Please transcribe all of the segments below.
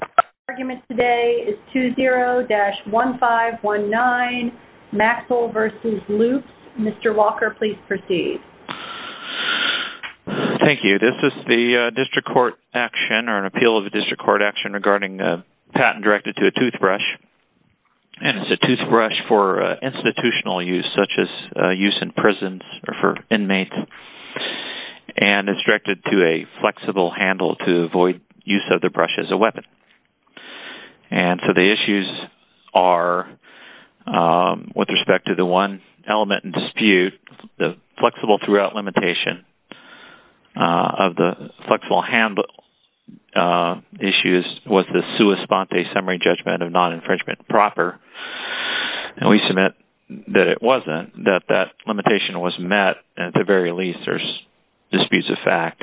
The argument today is 20-1519, Maxill v. Loops. Mr. Walker, please proceed. Thank you. This is the district court action or an appeal of the district court action regarding a patent directed to a toothbrush. And it's a toothbrush for institutional use, such as use in prisons or for inmates. And it's directed to a flexible handle to avoid use of the brush as a weapon. And so the issues are, with respect to the one element in dispute, the flexible throughout limitation of the flexible handle issues was the sua sponte summary judgment of non-infringement proper. And we submit that it wasn't, that that limitation was met, and at the very least, there's disputes of fact.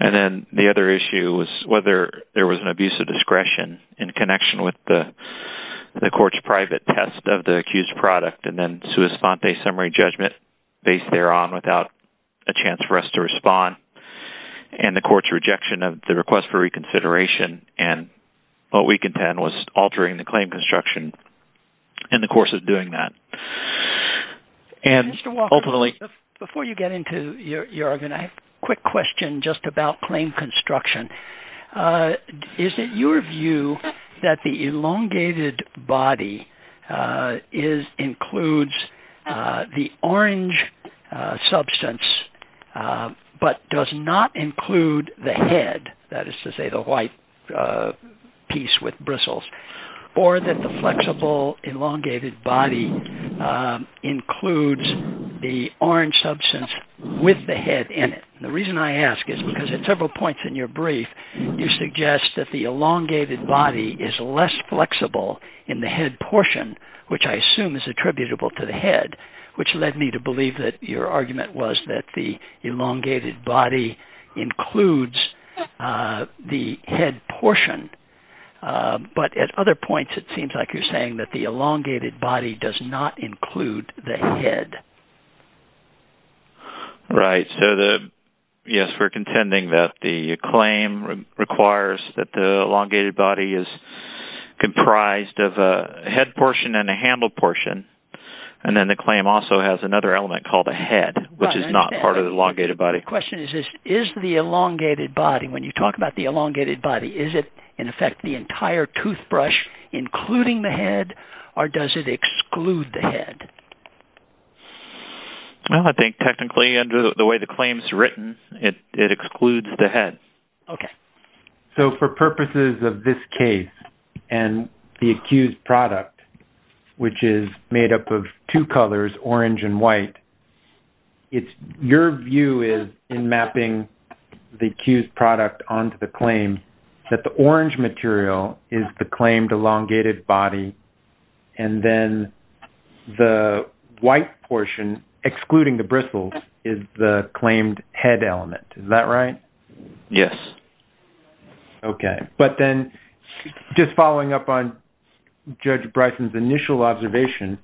And then the other issue was whether there was an abuse of discretion in connection with the court's private test of the accused product and then sua sponte summary judgment based thereon without a chance for us to respond. And the court's rejection of the request for reconsideration, and what we contend was altering the claim construction in the course of doing that. Mr. Walker, before you get into your argument, I have a quick question just about claim construction. Is it your view that the elongated body includes the orange substance but does not include the head, that is to say the white piece with bristles, or that the flexible elongated body includes the orange substance with the head in it? The reason I ask is because at several points in your brief, you suggest that the elongated body is less flexible in the head portion, which I assume is attributable to the head, which led me to believe that your argument was that the elongated body includes the head portion. But at other points, it seems like you're saying that the elongated body does not include the head. Right. So, yes, we're contending that the claim requires that the elongated body is comprised of a head portion and a handle portion. And then the claim also has another element called a head, which is not part of the elongated body. My question is, is the elongated body, when you talk about the elongated body, is it in effect the entire toothbrush, including the head, or does it exclude the head? I think technically, under the way the claim is written, it excludes the head. Okay. So, for purposes of this case and the accused product, which is made up of two colors, orange and white, your view is, in mapping the accused product onto the claim, that the orange material is the claimed elongated body, and then the white portion, excluding the bristles, is the claimed head element. Is that right? Yes. Okay. But then, just following up on Judge Bryson's initial observation,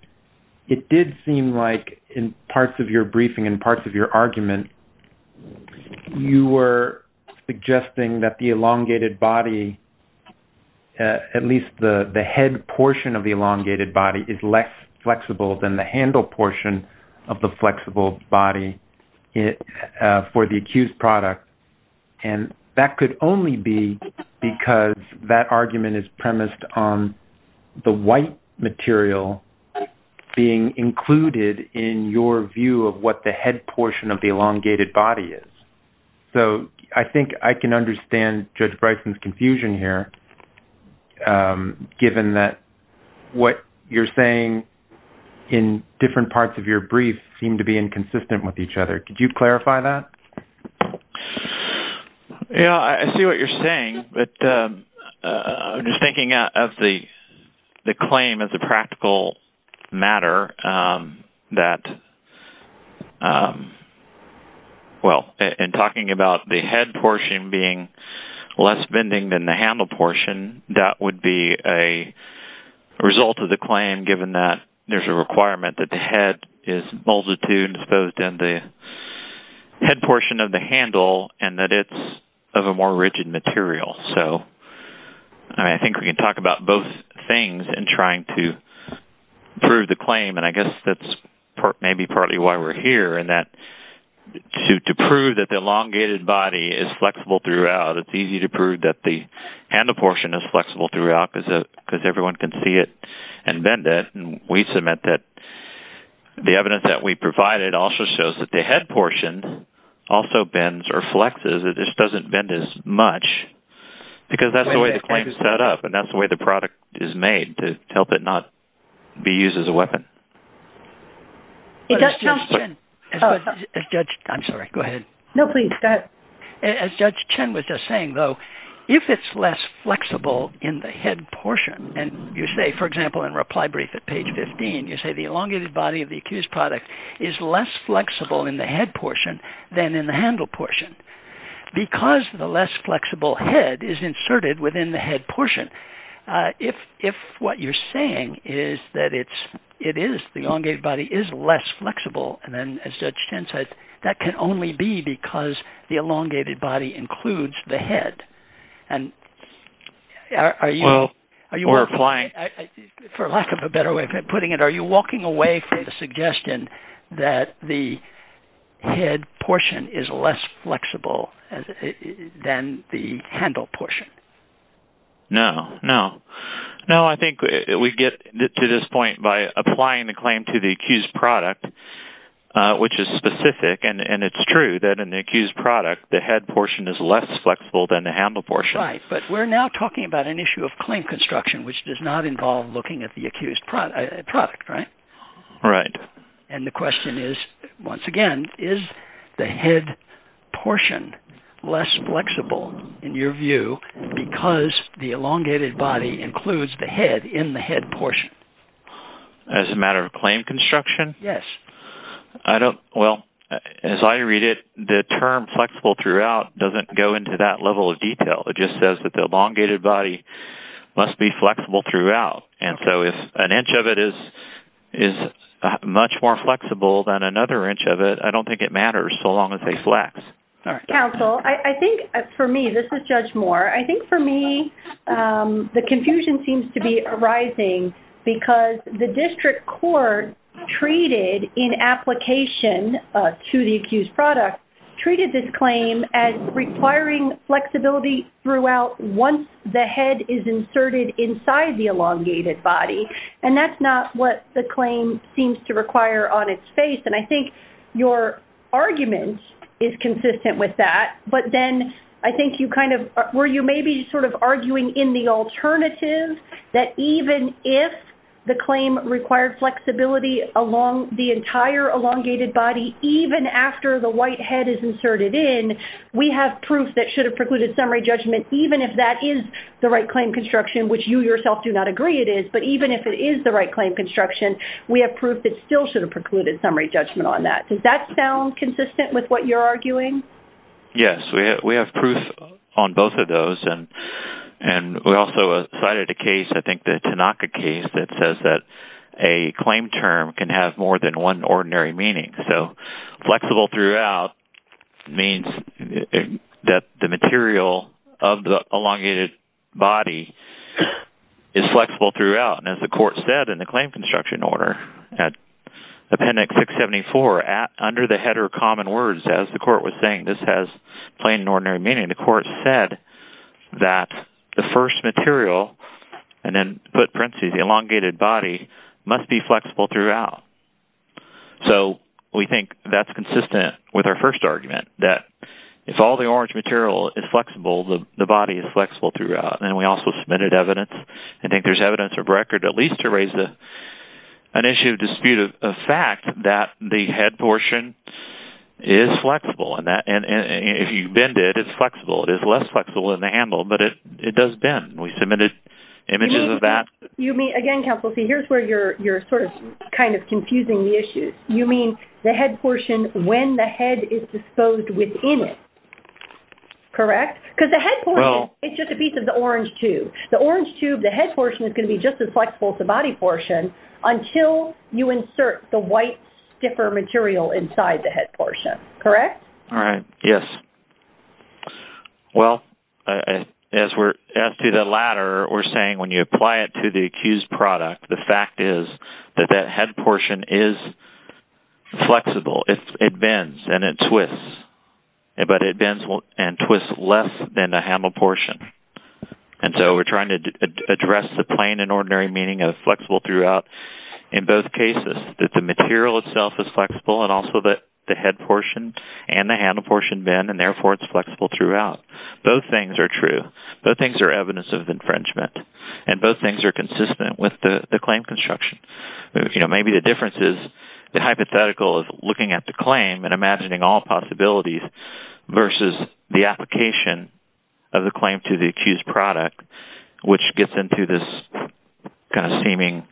it did seem like, in parts of your briefing and parts of your argument, you were suggesting that the elongated body, at least the head portion of the elongated body, is less flexible than the handle portion of the flexible body for the accused product. And that could only be because that argument is premised on the white material being included in your view of what the head portion of the elongated body is. So, I think I can understand Judge Bryson's confusion here, given that what you're saying in different parts of your brief seem to be inconsistent with each other. Could you clarify that? Yeah, I see what you're saying, but I'm just thinking of the claim as a practical matter that, well, in talking about the head portion being less bending than the handle portion, that would be a result of the claim, given that there's a requirement that the head is multitude, both in the head portion of the handle and that it's of a more rigid material. So, I think we can talk about both things in trying to prove the claim, and I guess that's maybe partly why we're here, in that to prove that the elongated body is flexible throughout, it's easy to prove that the handle portion is flexible throughout, because everyone can see it and bend it. And we submit that the evidence that we provided also shows that the head portion also bends or flexes. It just doesn't bend as much, because that's the way the claim is set up, and that's the way the product is made, to help it not be used as a weapon. I'm sorry, go ahead. No, please, go ahead. As Judge Chen was just saying, though, if it's less flexible in the head portion, and you say, for example, in reply brief at page 15, you say the elongated body of the accused product is less flexible in the head portion than in the handle portion. Because the less flexible head is inserted within the head portion, if what you're saying is that it is, the elongated body is less flexible, and then, as Judge Chen said, that can only be because the elongated body includes the head. For lack of a better way of putting it, are you walking away from the suggestion that the head portion is less flexible than the handle portion? No, no. No, I think we get to this point by applying the claim to the accused product, which is specific, and it's true that in the accused product, the head portion is less flexible than the handle portion. Right, but we're now talking about an issue of claim construction, which does not involve looking at the accused product, right? Right. And the question is, once again, is the head portion less flexible, in your view, because the elongated body includes the head in the head portion? As a matter of claim construction? Yes. Well, as I read it, the term flexible throughout doesn't go into that level of detail. It just says that the elongated body must be flexible throughout, and so if an inch of it is much more flexible than another inch of it, I don't think it matters so long as they flex. Counsel, I think for me, this is Judge Moore, I think for me, the confusion seems to be arising because the district court treated in application to the accused product, treated this claim as requiring flexibility throughout once the head is inserted inside the elongated body, and that's not what the claim seems to require on its face, and I think your argument is consistent with that, but then I think you kind of, where you may be sort of arguing in the alternative, that even if the claim required flexibility along the entire elongated body, even after the white head is inserted in, we have proof that should have precluded summary judgment, even if that is the right claim construction, which you yourself do not agree it is, but even if it is the right claim construction, we have proof that still should have precluded summary judgment on that. Does that sound consistent with what you're arguing? Yes. We have proof on both of those, and we also cited a case, I think the Tanaka case, that says that a claim term can have more than one ordinary meaning. Flexible throughout means that the material of the elongated body is flexible throughout, and as the court said in the claim construction order, appendix 674, under the header common words, as the court was saying, this has plain and ordinary meaning, the court said that the first material, and then put parentheses, the elongated body, must be flexible throughout. So, we think that's consistent with our first argument, that if all the orange material is flexible, the body is flexible throughout, and we also submitted evidence. I think there's evidence of record, at least to raise an issue of dispute of fact, that the head portion is flexible, and if you bend it, it's flexible. It is less flexible in the handle, but it does bend. We submitted images of that. Again, counsel, see, here's where you're sort of kind of confusing the issues. You mean the head portion when the head is disposed within it, correct? Because the head portion is just a piece of the orange tube. The orange tube, the head portion is going to be just as flexible as the body portion until you insert the white, stiffer material inside the head portion, correct? All right. Yes. Well, as to the latter, we're saying when you apply it to the accused product, the fact is that that head portion is flexible. It bends, and it twists, but it bends and twists less than the handle portion. And so we're trying to address the plain and ordinary meaning of flexible throughout in both cases, that the material itself is flexible, and also that the head portion and the handle portion bend, and therefore it's flexible throughout. Both things are true. Both things are evidence of infringement, and both things are consistent with the claim construction. Maybe the difference is the hypothetical of looking at the claim and imagining all possibilities versus the application of the claim to the accused product, which gets into this kind of seeming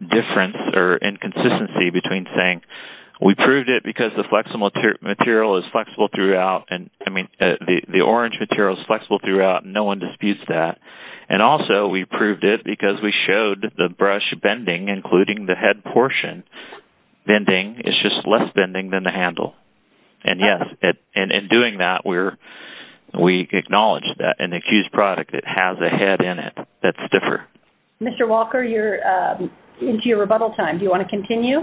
difference or inconsistency between saying, We proved it because the orange material is flexible throughout, and no one disputes that. And also, we proved it because we showed the brush bending, including the head portion bending, is just less bending than the handle. And yes, in doing that, we acknowledge that in the accused product, it has a head in it that's stiffer. Mr. Walker, you're into your rebuttal time. Do you want to continue?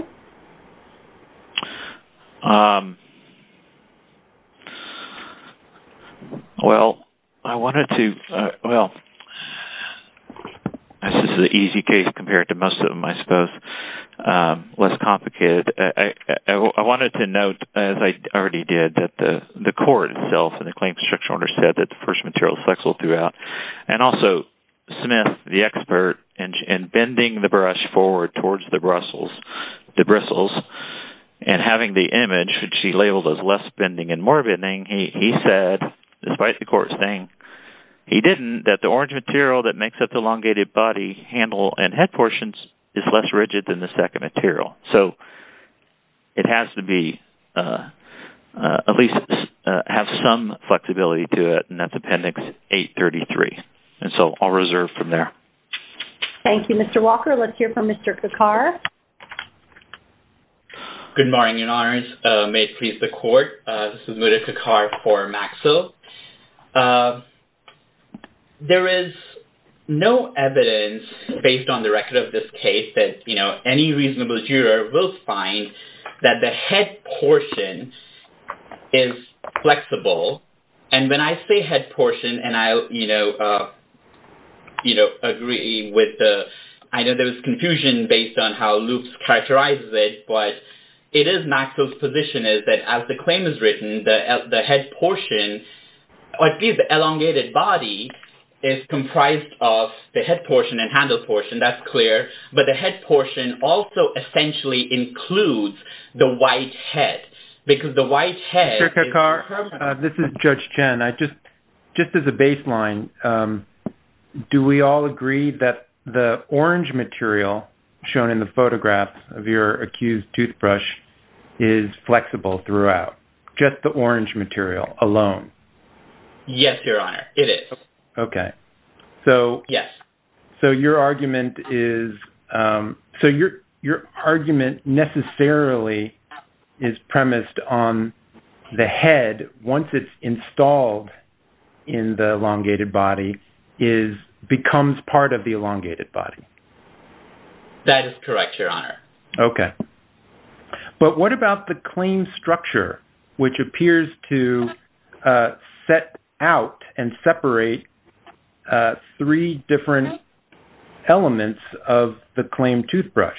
Well, I wanted to... Well, this is an easy case compared to most of them, I suppose. Less complicated. I wanted to note, as I already did, that the court itself and the claim structure owner said that the first material is flexible throughout. And also, Smith, the expert in bending the brush forward towards the bristles and having the image, which he labeled as less bending and more bending, he said, despite the court saying he didn't, that the orange material that makes up the elongated body, handle, and head portions is less rigid than the second material. So, it has to be, at least have some flexibility to it. And that's Appendix 833. And so, I'll reserve from there. Thank you, Mr. Walker. Let's hear from Mr. Kakar. Good morning, Your Honors. May it please the court. This is Mudit Kakar for Maxill. There is no evidence, based on the record of this case, that any reasonable juror will find that the head portion is flexible. And when I say head portion, and I, you know, agree with the, I know there was confusion based on how Loups characterized it, but it is Maxill's position is that, as the claim is written, the head portion, at least the elongated body, is comprised of the head portion and handle portion. That's clear. But the head portion also essentially includes the white head. Because the white head… This is Judge Chen. I just, just as a baseline, do we all agree that the orange material shown in the photographs of your accused toothbrush is flexible throughout? Just the orange material alone? Yes, Your Honor. It is. Okay. So… Yes. So your argument is, so your argument necessarily is premised on the head, once it's installed in the elongated body, is, becomes part of the elongated body. That is correct, Your Honor. Okay. But what about the claim structure, which appears to set out and separate three different elements of the claim toothbrush?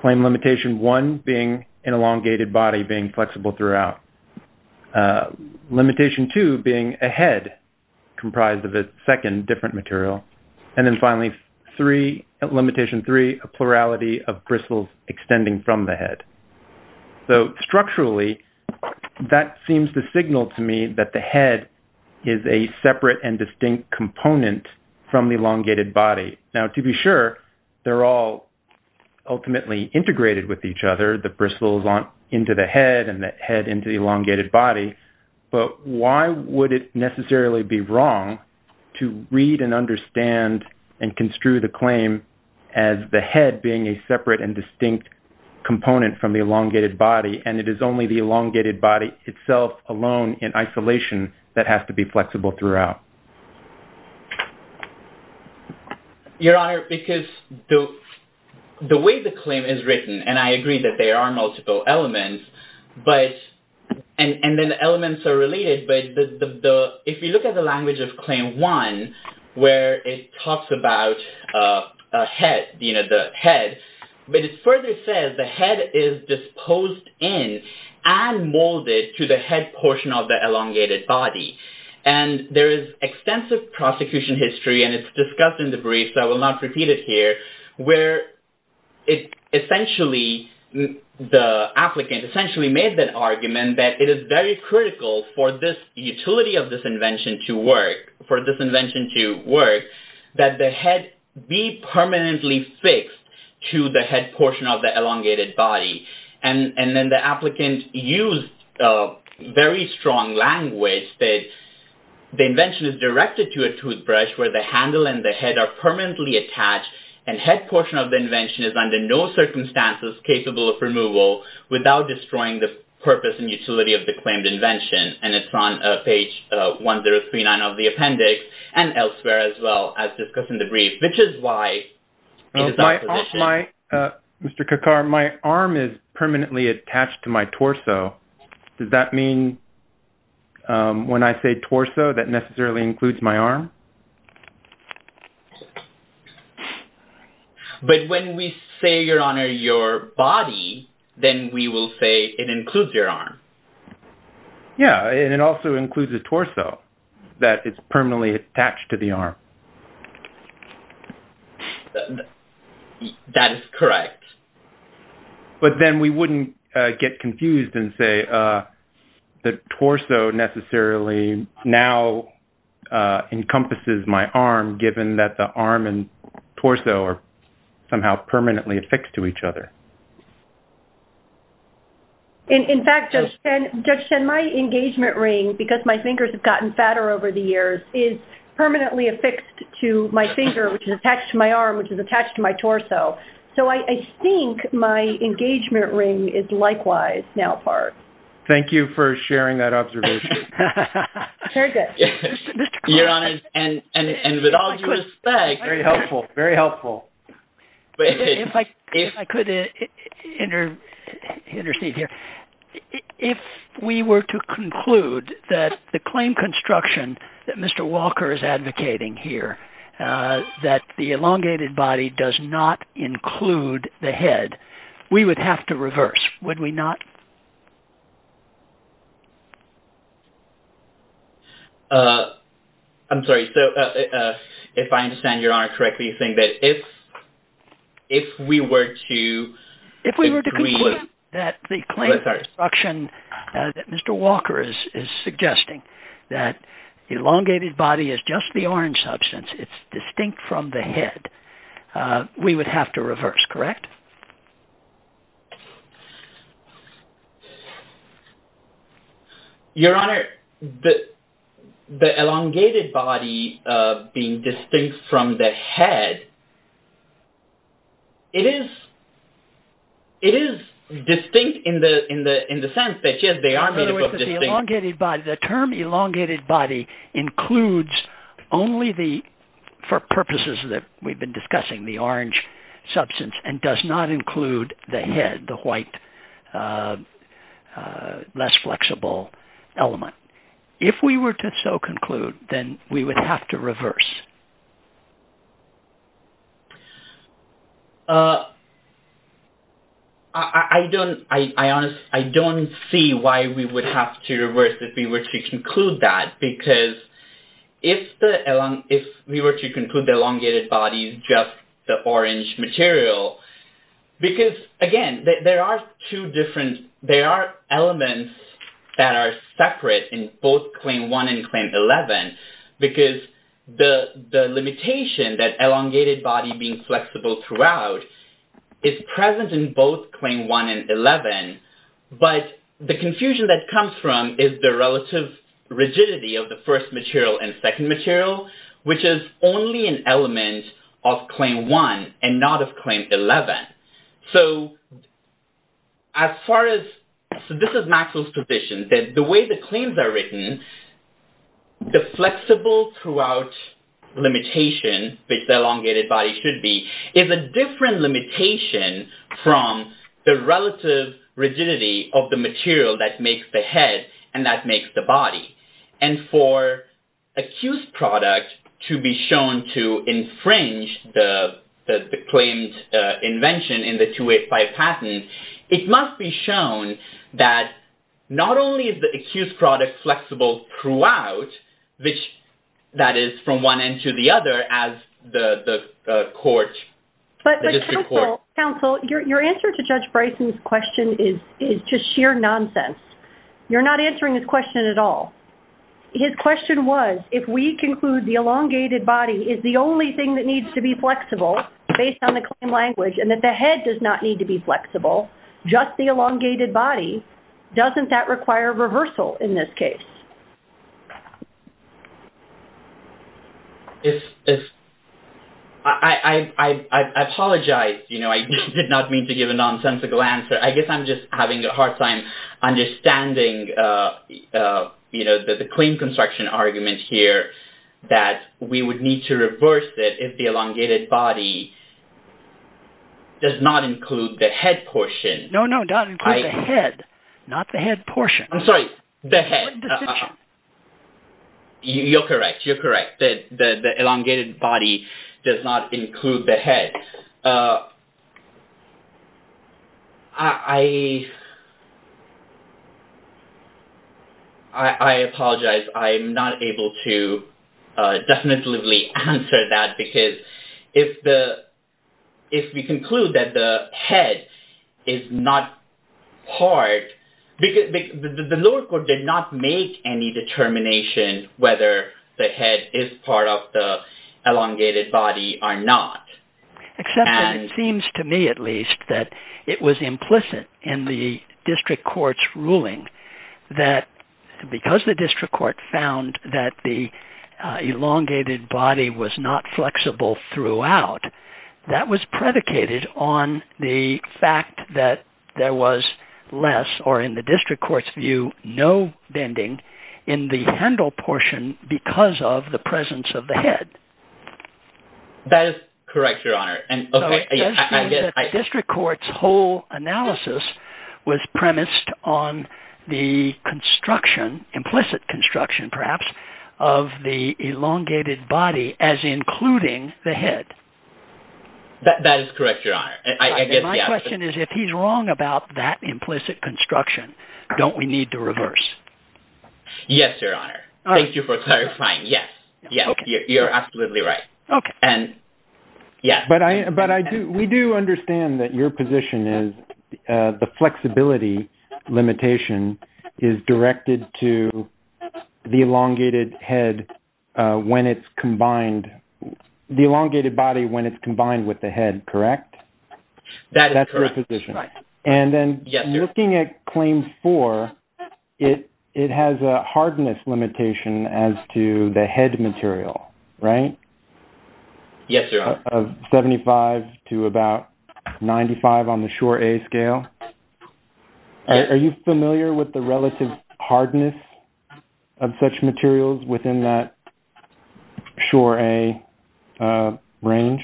Claim limitation one being an elongated body being flexible throughout. Limitation two being a head comprised of a second different material. And then finally, limitation three, a plurality of bristles extending from the head. So, structurally, that seems to signal to me that the head is a separate and distinct component from the elongated body. Now, to be sure, they're all ultimately integrated with each other, the bristles into the head and the head into the elongated body. But why would it necessarily be wrong to read and understand and construe the claim as the head being a separate and distinct component from the elongated body, and it is only the elongated body itself alone in isolation that has to be flexible throughout? Your Honor, because the way the claim is written, and I agree that there are multiple elements, but, and then the elements are related, but if you look at the language of claim one, where it talks about a head, you know, the head, but it further says the head is disposed in and molded to the head portion of the elongated body. And there is extensive prosecution history, and it's discussed in the brief, so I will not repeat it here, where it essentially, the applicant essentially made that argument that it is very critical for this utility of this invention to work, for this invention to work, that the head be permanently fixed to the head portion of the elongated body. And then the applicant used very strong language that the invention is directed to a toothbrush where the handle and the head are permanently attached, and head portion of the invention is under no circumstances capable of removal without destroying the purpose and utility of the claimed invention. And it's on page 1039 of the appendix and elsewhere as well as discussed in the brief, which is why… Mr. Kakkar, my arm is permanently attached to my torso. Does that mean when I say torso that necessarily includes my arm? But when we say, Your Honor, your body, then we will say it includes your arm. Yeah, and it also includes the torso, that it's permanently attached to the arm. That is correct. But then we wouldn't get confused and say the torso necessarily now encompasses my arm, given that the arm and torso are somehow permanently affixed to each other. In fact, Judge Chen, my engagement ring, because my fingers have gotten fatter over the years, is permanently affixed to my finger, which is attached to my arm, which is attached to my torso. So I think my engagement ring is likewise now part. Thank you for sharing that observation. Very good. Your Honor, and with all due respect… Very helpful. Very helpful. If I could intercede here. If we were to conclude that the claim construction that Mr. Walker is advocating here, that the elongated body does not include the head, we would have to reverse, would we not? I'm sorry. So if I understand Your Honor correctly, you're saying that if we were to… If we were to conclude that the claim construction that Mr. Walker is suggesting, that the elongated body is just the orange substance, it's distinct from the head, we would have to reverse, correct? Your Honor, the elongated body being distinct from the head, it is distinct in the sense that yes, they are made up of distinct… It does not include the head, the white, less flexible element. If we were to so conclude, then we would have to reverse. I don't see why we would have to reverse if we were to conclude that, because if we were to conclude the elongated body is just the orange material, because again, there are two different… …that are separate in both Claim 1 and Claim 11, because the limitation that elongated body being flexible throughout is present in both Claim 1 and 11, but the confusion that comes from is the relative rigidity of the first material and second material, which is only an element of Claim 1 and not of Claim 11. This is Maxwell's position, that the way the claims are written, the flexible throughout limitation, which the elongated body should be, is a different limitation from the relative rigidity of the material that makes the head and that makes the body. For accused product to be shown to infringe the claimed invention in the 285 patent, it must be shown that not only is the accused product flexible throughout, which that is from one end to the other as the court… Counsel, your answer to Judge Bryson's question is just sheer nonsense. You're not answering his question at all. His question was, if we conclude the elongated body is the only thing that needs to be flexible based on the claim language and that the head does not need to be flexible, just the elongated body, doesn't that require reversal in this case? I apologize. I did not mean to give a nonsensical answer. I guess I'm just having a hard time understanding the claim construction argument here that we would need to reverse it if the elongated body does not include the head portion. No, no, not include the head, not the head portion. You're correct. You're correct. The elongated body does not include the head. I apologize. I'm not able to definitively answer that because if we conclude that the head is not part – the lower court did not make any determination whether the head is part of the elongated body or not. Except that it seems to me at least that it was implicit in the district court's ruling that because the district court found that the elongated body was not flexible throughout, that was predicated on the fact that there was less, or in the district court's view, no bending in the handle portion because of the presence of the head. That is correct, Your Honor. So it seems that district court's whole analysis was premised on the construction, implicit construction perhaps, of the elongated body as including the head. That is correct, Your Honor. My question is if he's wrong about that implicit construction, don't we need to reverse? Yes, Your Honor. Thank you for clarifying. Yes, you're absolutely right. But we do understand that your position is the flexibility limitation is directed to the elongated head when it's combined – the elongated body when it's combined with the head, correct? That is correct. And then looking at Claim 4, it has a hardness limitation as to the head material, right? Yes, Your Honor. Of 75 to about 95 on the SURE-A scale. Are you familiar with the relative hardness of such materials within that SURE-A range?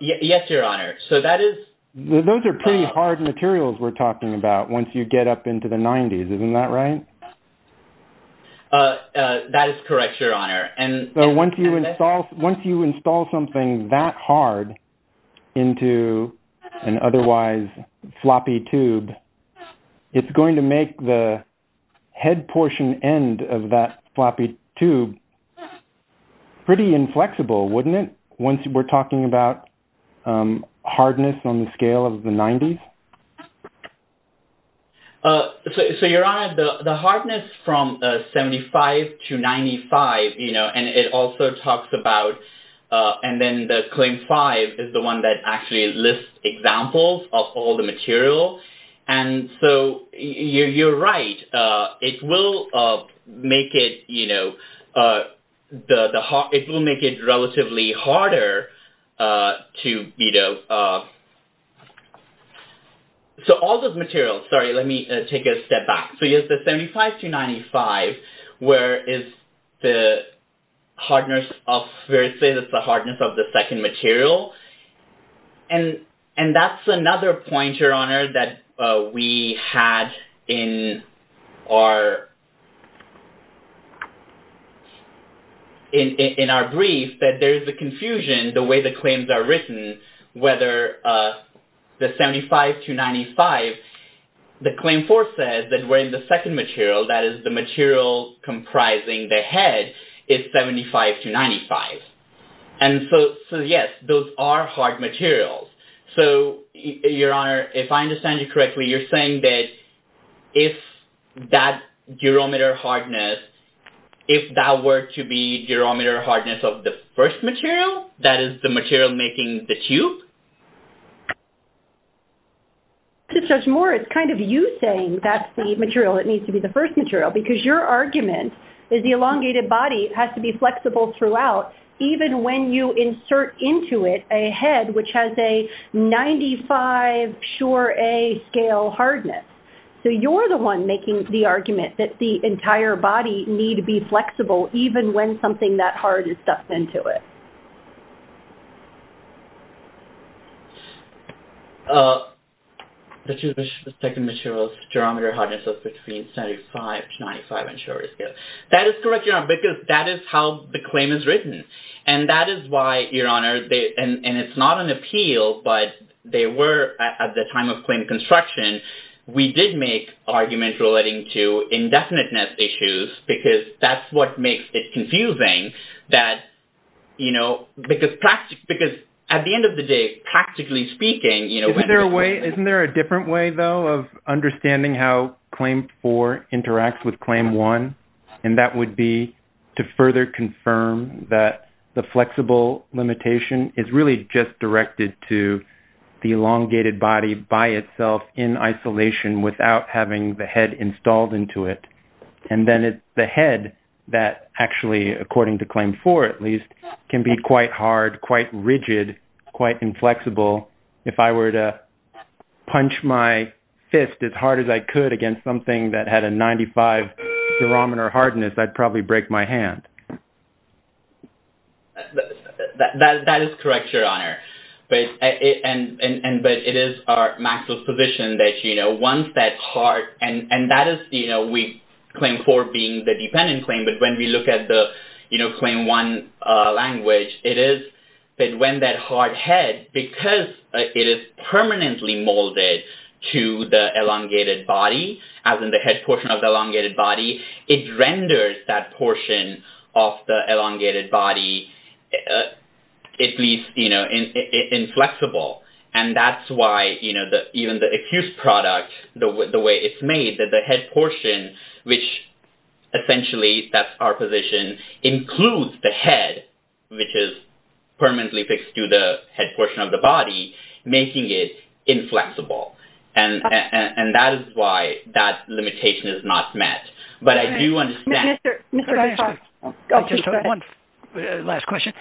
Yes, Your Honor. So that is… Those are pretty hard materials we're talking about once you get up into the 90s. Isn't that right? That is correct, Your Honor. So once you install something that hard into an otherwise floppy tube, it's going to make the head portion end of that floppy tube pretty inflexible, wouldn't it, once we're talking about hardness on the scale of the 90s? So, Your Honor, the hardness from 75 to 95, you know, and it also talks about – and then the Claim 5 is the one that actually lists examples of all the material. And so you're right. It will make it, you know, it will make it relatively harder to, you know… So all those materials – sorry, let me take a step back. So, yes, the 75 to 95, where it says it's the hardness of the second material. And that's another point, Your Honor, that we had in our brief, that there is a confusion the way the claims are written, whether the 75 to 95, the Claim 4 says that we're in the second material, that is, the material comprising the head is 75 to 95. And so, yes, those are hard materials. So, Your Honor, if I understand you correctly, you're saying that if that durometer hardness, if that were to be durometer hardness of the first material, that is the material making the tube? To Judge Moore, it's kind of you saying that's the material that needs to be the first material, because your argument is the elongated body has to be flexible throughout, even when you insert into it a head which has a 95 sure A scale hardness. So you're the one making the argument that the entire body need to be flexible, even when something that hard is stuffed into it. The second material's durometer hardness is between 75 to 95 and sure A scale. That is correct, Your Honor, because that is how the claim is written. And that is why, Your Honor, and it's not an appeal, but they were at the time of claim construction, we did make arguments relating to indefiniteness issues, because that's what makes it confusing. That, you know, because at the end of the day, practically speaking... Isn't there a way, isn't there a different way, though, of understanding how Claim 4 interacts with Claim 1? And that would be to further confirm that the flexible limitation is really just directed to the elongated body by itself in isolation without having the head installed into it. And then it's the head that actually, according to Claim 4 at least, can be quite hard, quite rigid, quite inflexible. If I were to punch my fist as hard as I could against something that had a 95 durometer hardness, I'd probably break my hand. That is correct, Your Honor. But it is Maxwell's position that, you know, once that hard... And that is, you know, we claim 4 being the dependent claim, but when we look at the, you know, Claim 1 language, it is that when that hard head, because it is permanently molded to the elongated body, as in the head portion of the elongated body, it renders that portion of the elongated body. It leaves, you know, inflexible. And that's why, you know, even the accused product, the way it's made, that the head portion, which essentially, that's our position, includes the head, which is permanently fixed to the head portion of the body, making it inflexible. And that is why that limitation is not met. But I do understand... Mr. Garza... I just have one last question.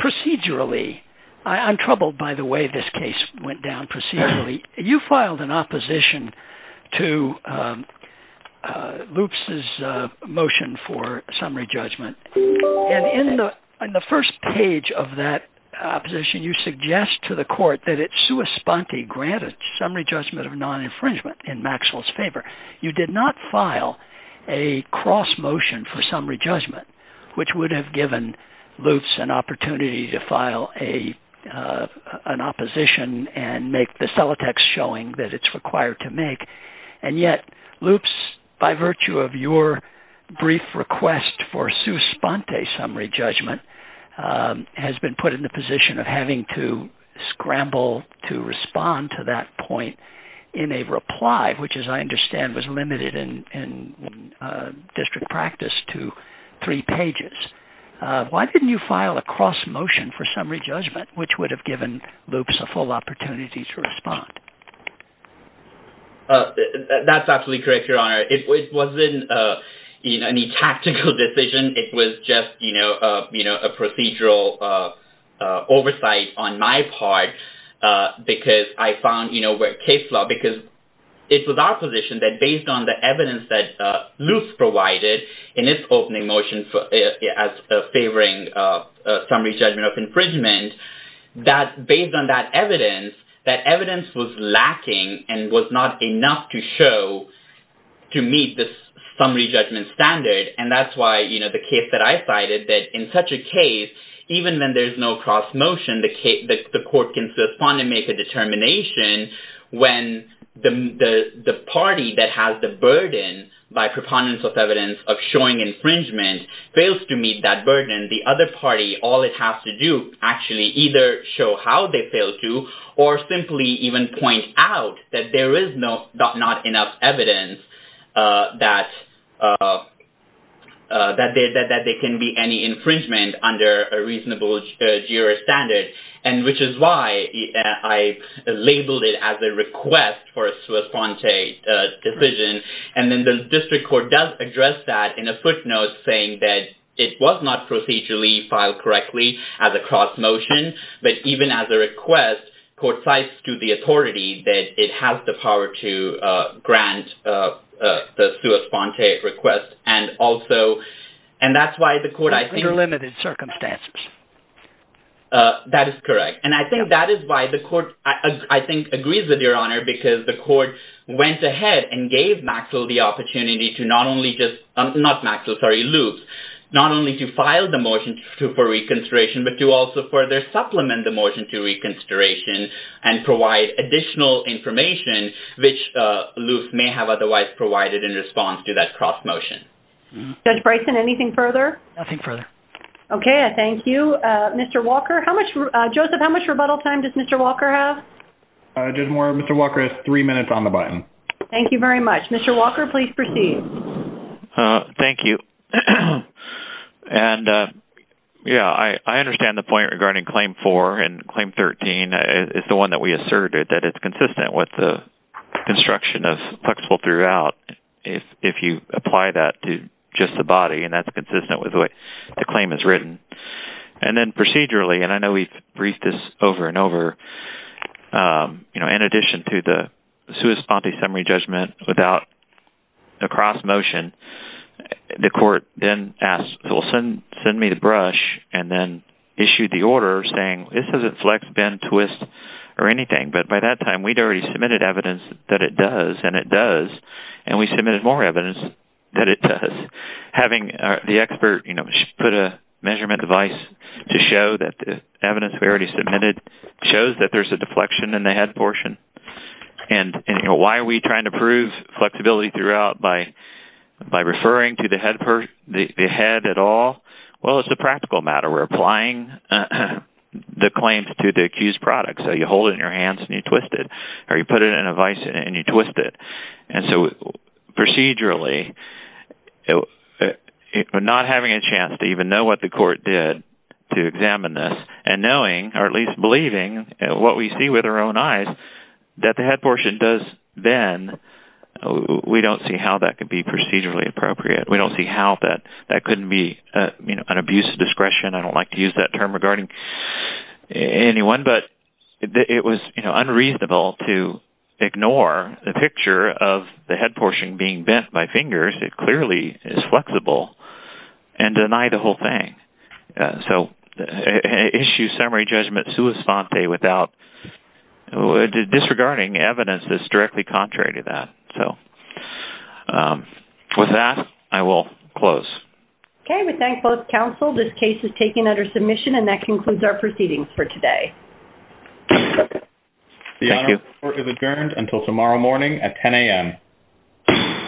Procedurally, I'm troubled by the way this case went down procedurally. You filed an opposition to Loops' motion for summary judgment. And in the first page of that opposition, you suggest to the court that it's sua sponte, granted, summary judgment of non-infringement in Maxwell's favor. You did not file a cross motion for summary judgment, which would have given Loops an opportunity to file an opposition and make the cellotex showing that it's required to make. And yet, Loops, by virtue of your brief request for sua sponte summary judgment, has been put in the position of having to scramble to respond to that point in a reply, which, as I understand, was limited in district practice to three pages. Why didn't you file a cross motion for summary judgment, which would have given Loops a full opportunity to respond? That's absolutely correct, Your Honor. It wasn't any tactical decision. It was just a procedural oversight on my part because I found where case law... It was our position that based on the evidence that Loops provided in its opening motion as favoring summary judgment of infringement, that based on that evidence, that evidence was lacking and was not enough to show to meet the summary judgment standard. And that's why the case that I cited, that in such a case, even when there's no cross motion, the court can still respond and make a determination when the party that has the burden by preponderance of evidence of showing infringement fails to meet that burden. The other party, all it has to do is actually either show how they failed to or simply even point out that there is not enough evidence that there can be any infringement under a reasonable juror standard, which is why I labeled it as a request for a sua sponte decision. And then the district court does address that in a footnote saying that it was not procedurally filed correctly as a cross motion, but even as a request, court cites to the authority that it has the power to grant the sua sponte request and also... Under limited circumstances. That is correct. And I think that is why the court, I think, agrees with your honor because the court went ahead and gave Maxwell the opportunity to not only just, not Maxwell, sorry, Loops, not only to file the motion for reconsideration, but to also further supplement the motion to reconsideration and provide additional information, which Loops may have otherwise provided in response to that cross motion. Judge Bryson, anything further? Nothing further. Okay, thank you. Mr. Walker, how much, Joseph, how much rebuttal time does Mr. Walker have? Judge Moore, Mr. Walker has three minutes on the button. Thank you very much. Mr. Walker, please proceed. Thank you. And, yeah, I understand the point regarding claim four and claim 13 is the one that we asserted that it's consistent with the construction of flexible throughout if you apply that to just the body and that's consistent with the way the claim is written. And then procedurally, and I know we've briefed this over and over, you know, in addition to the sui sponte summary judgment without a cross motion, the court then asked, well, send me the brush and then issued the order saying this doesn't flex, bend, twist, or anything. But by that time, we'd already submitted evidence that it does, and it does, and we submitted more evidence that it does. Having the expert, you know, put a measurement device to show that the evidence we already submitted shows that there's a deflection in the head portion. And, you know, why are we trying to prove flexibility throughout by referring to the head at all? Well, it's a practical matter. We're applying the claims to the accused product. So you hold it in your hands and you twist it or you put it in a vice and you twist it. And so procedurally, not having a chance to even know what the court did to examine this and knowing or at least believing what we see with our own eyes that the head portion does bend, we don't see how that could be procedurally appropriate. We don't see how that couldn't be an abuse of discretion. I don't like to use that term regarding anyone, but it was unreasonable to ignore the picture of the head portion being bent by fingers. It clearly is flexible and deny the whole thing. So issue summary judgment sui sante without disregarding evidence that's directly contrary to that. So with that, I will close. Okay. We thank both counsel. This case is taken under submission and that concludes our proceedings for today. The honor is adjourned until tomorrow morning at 10 a.m.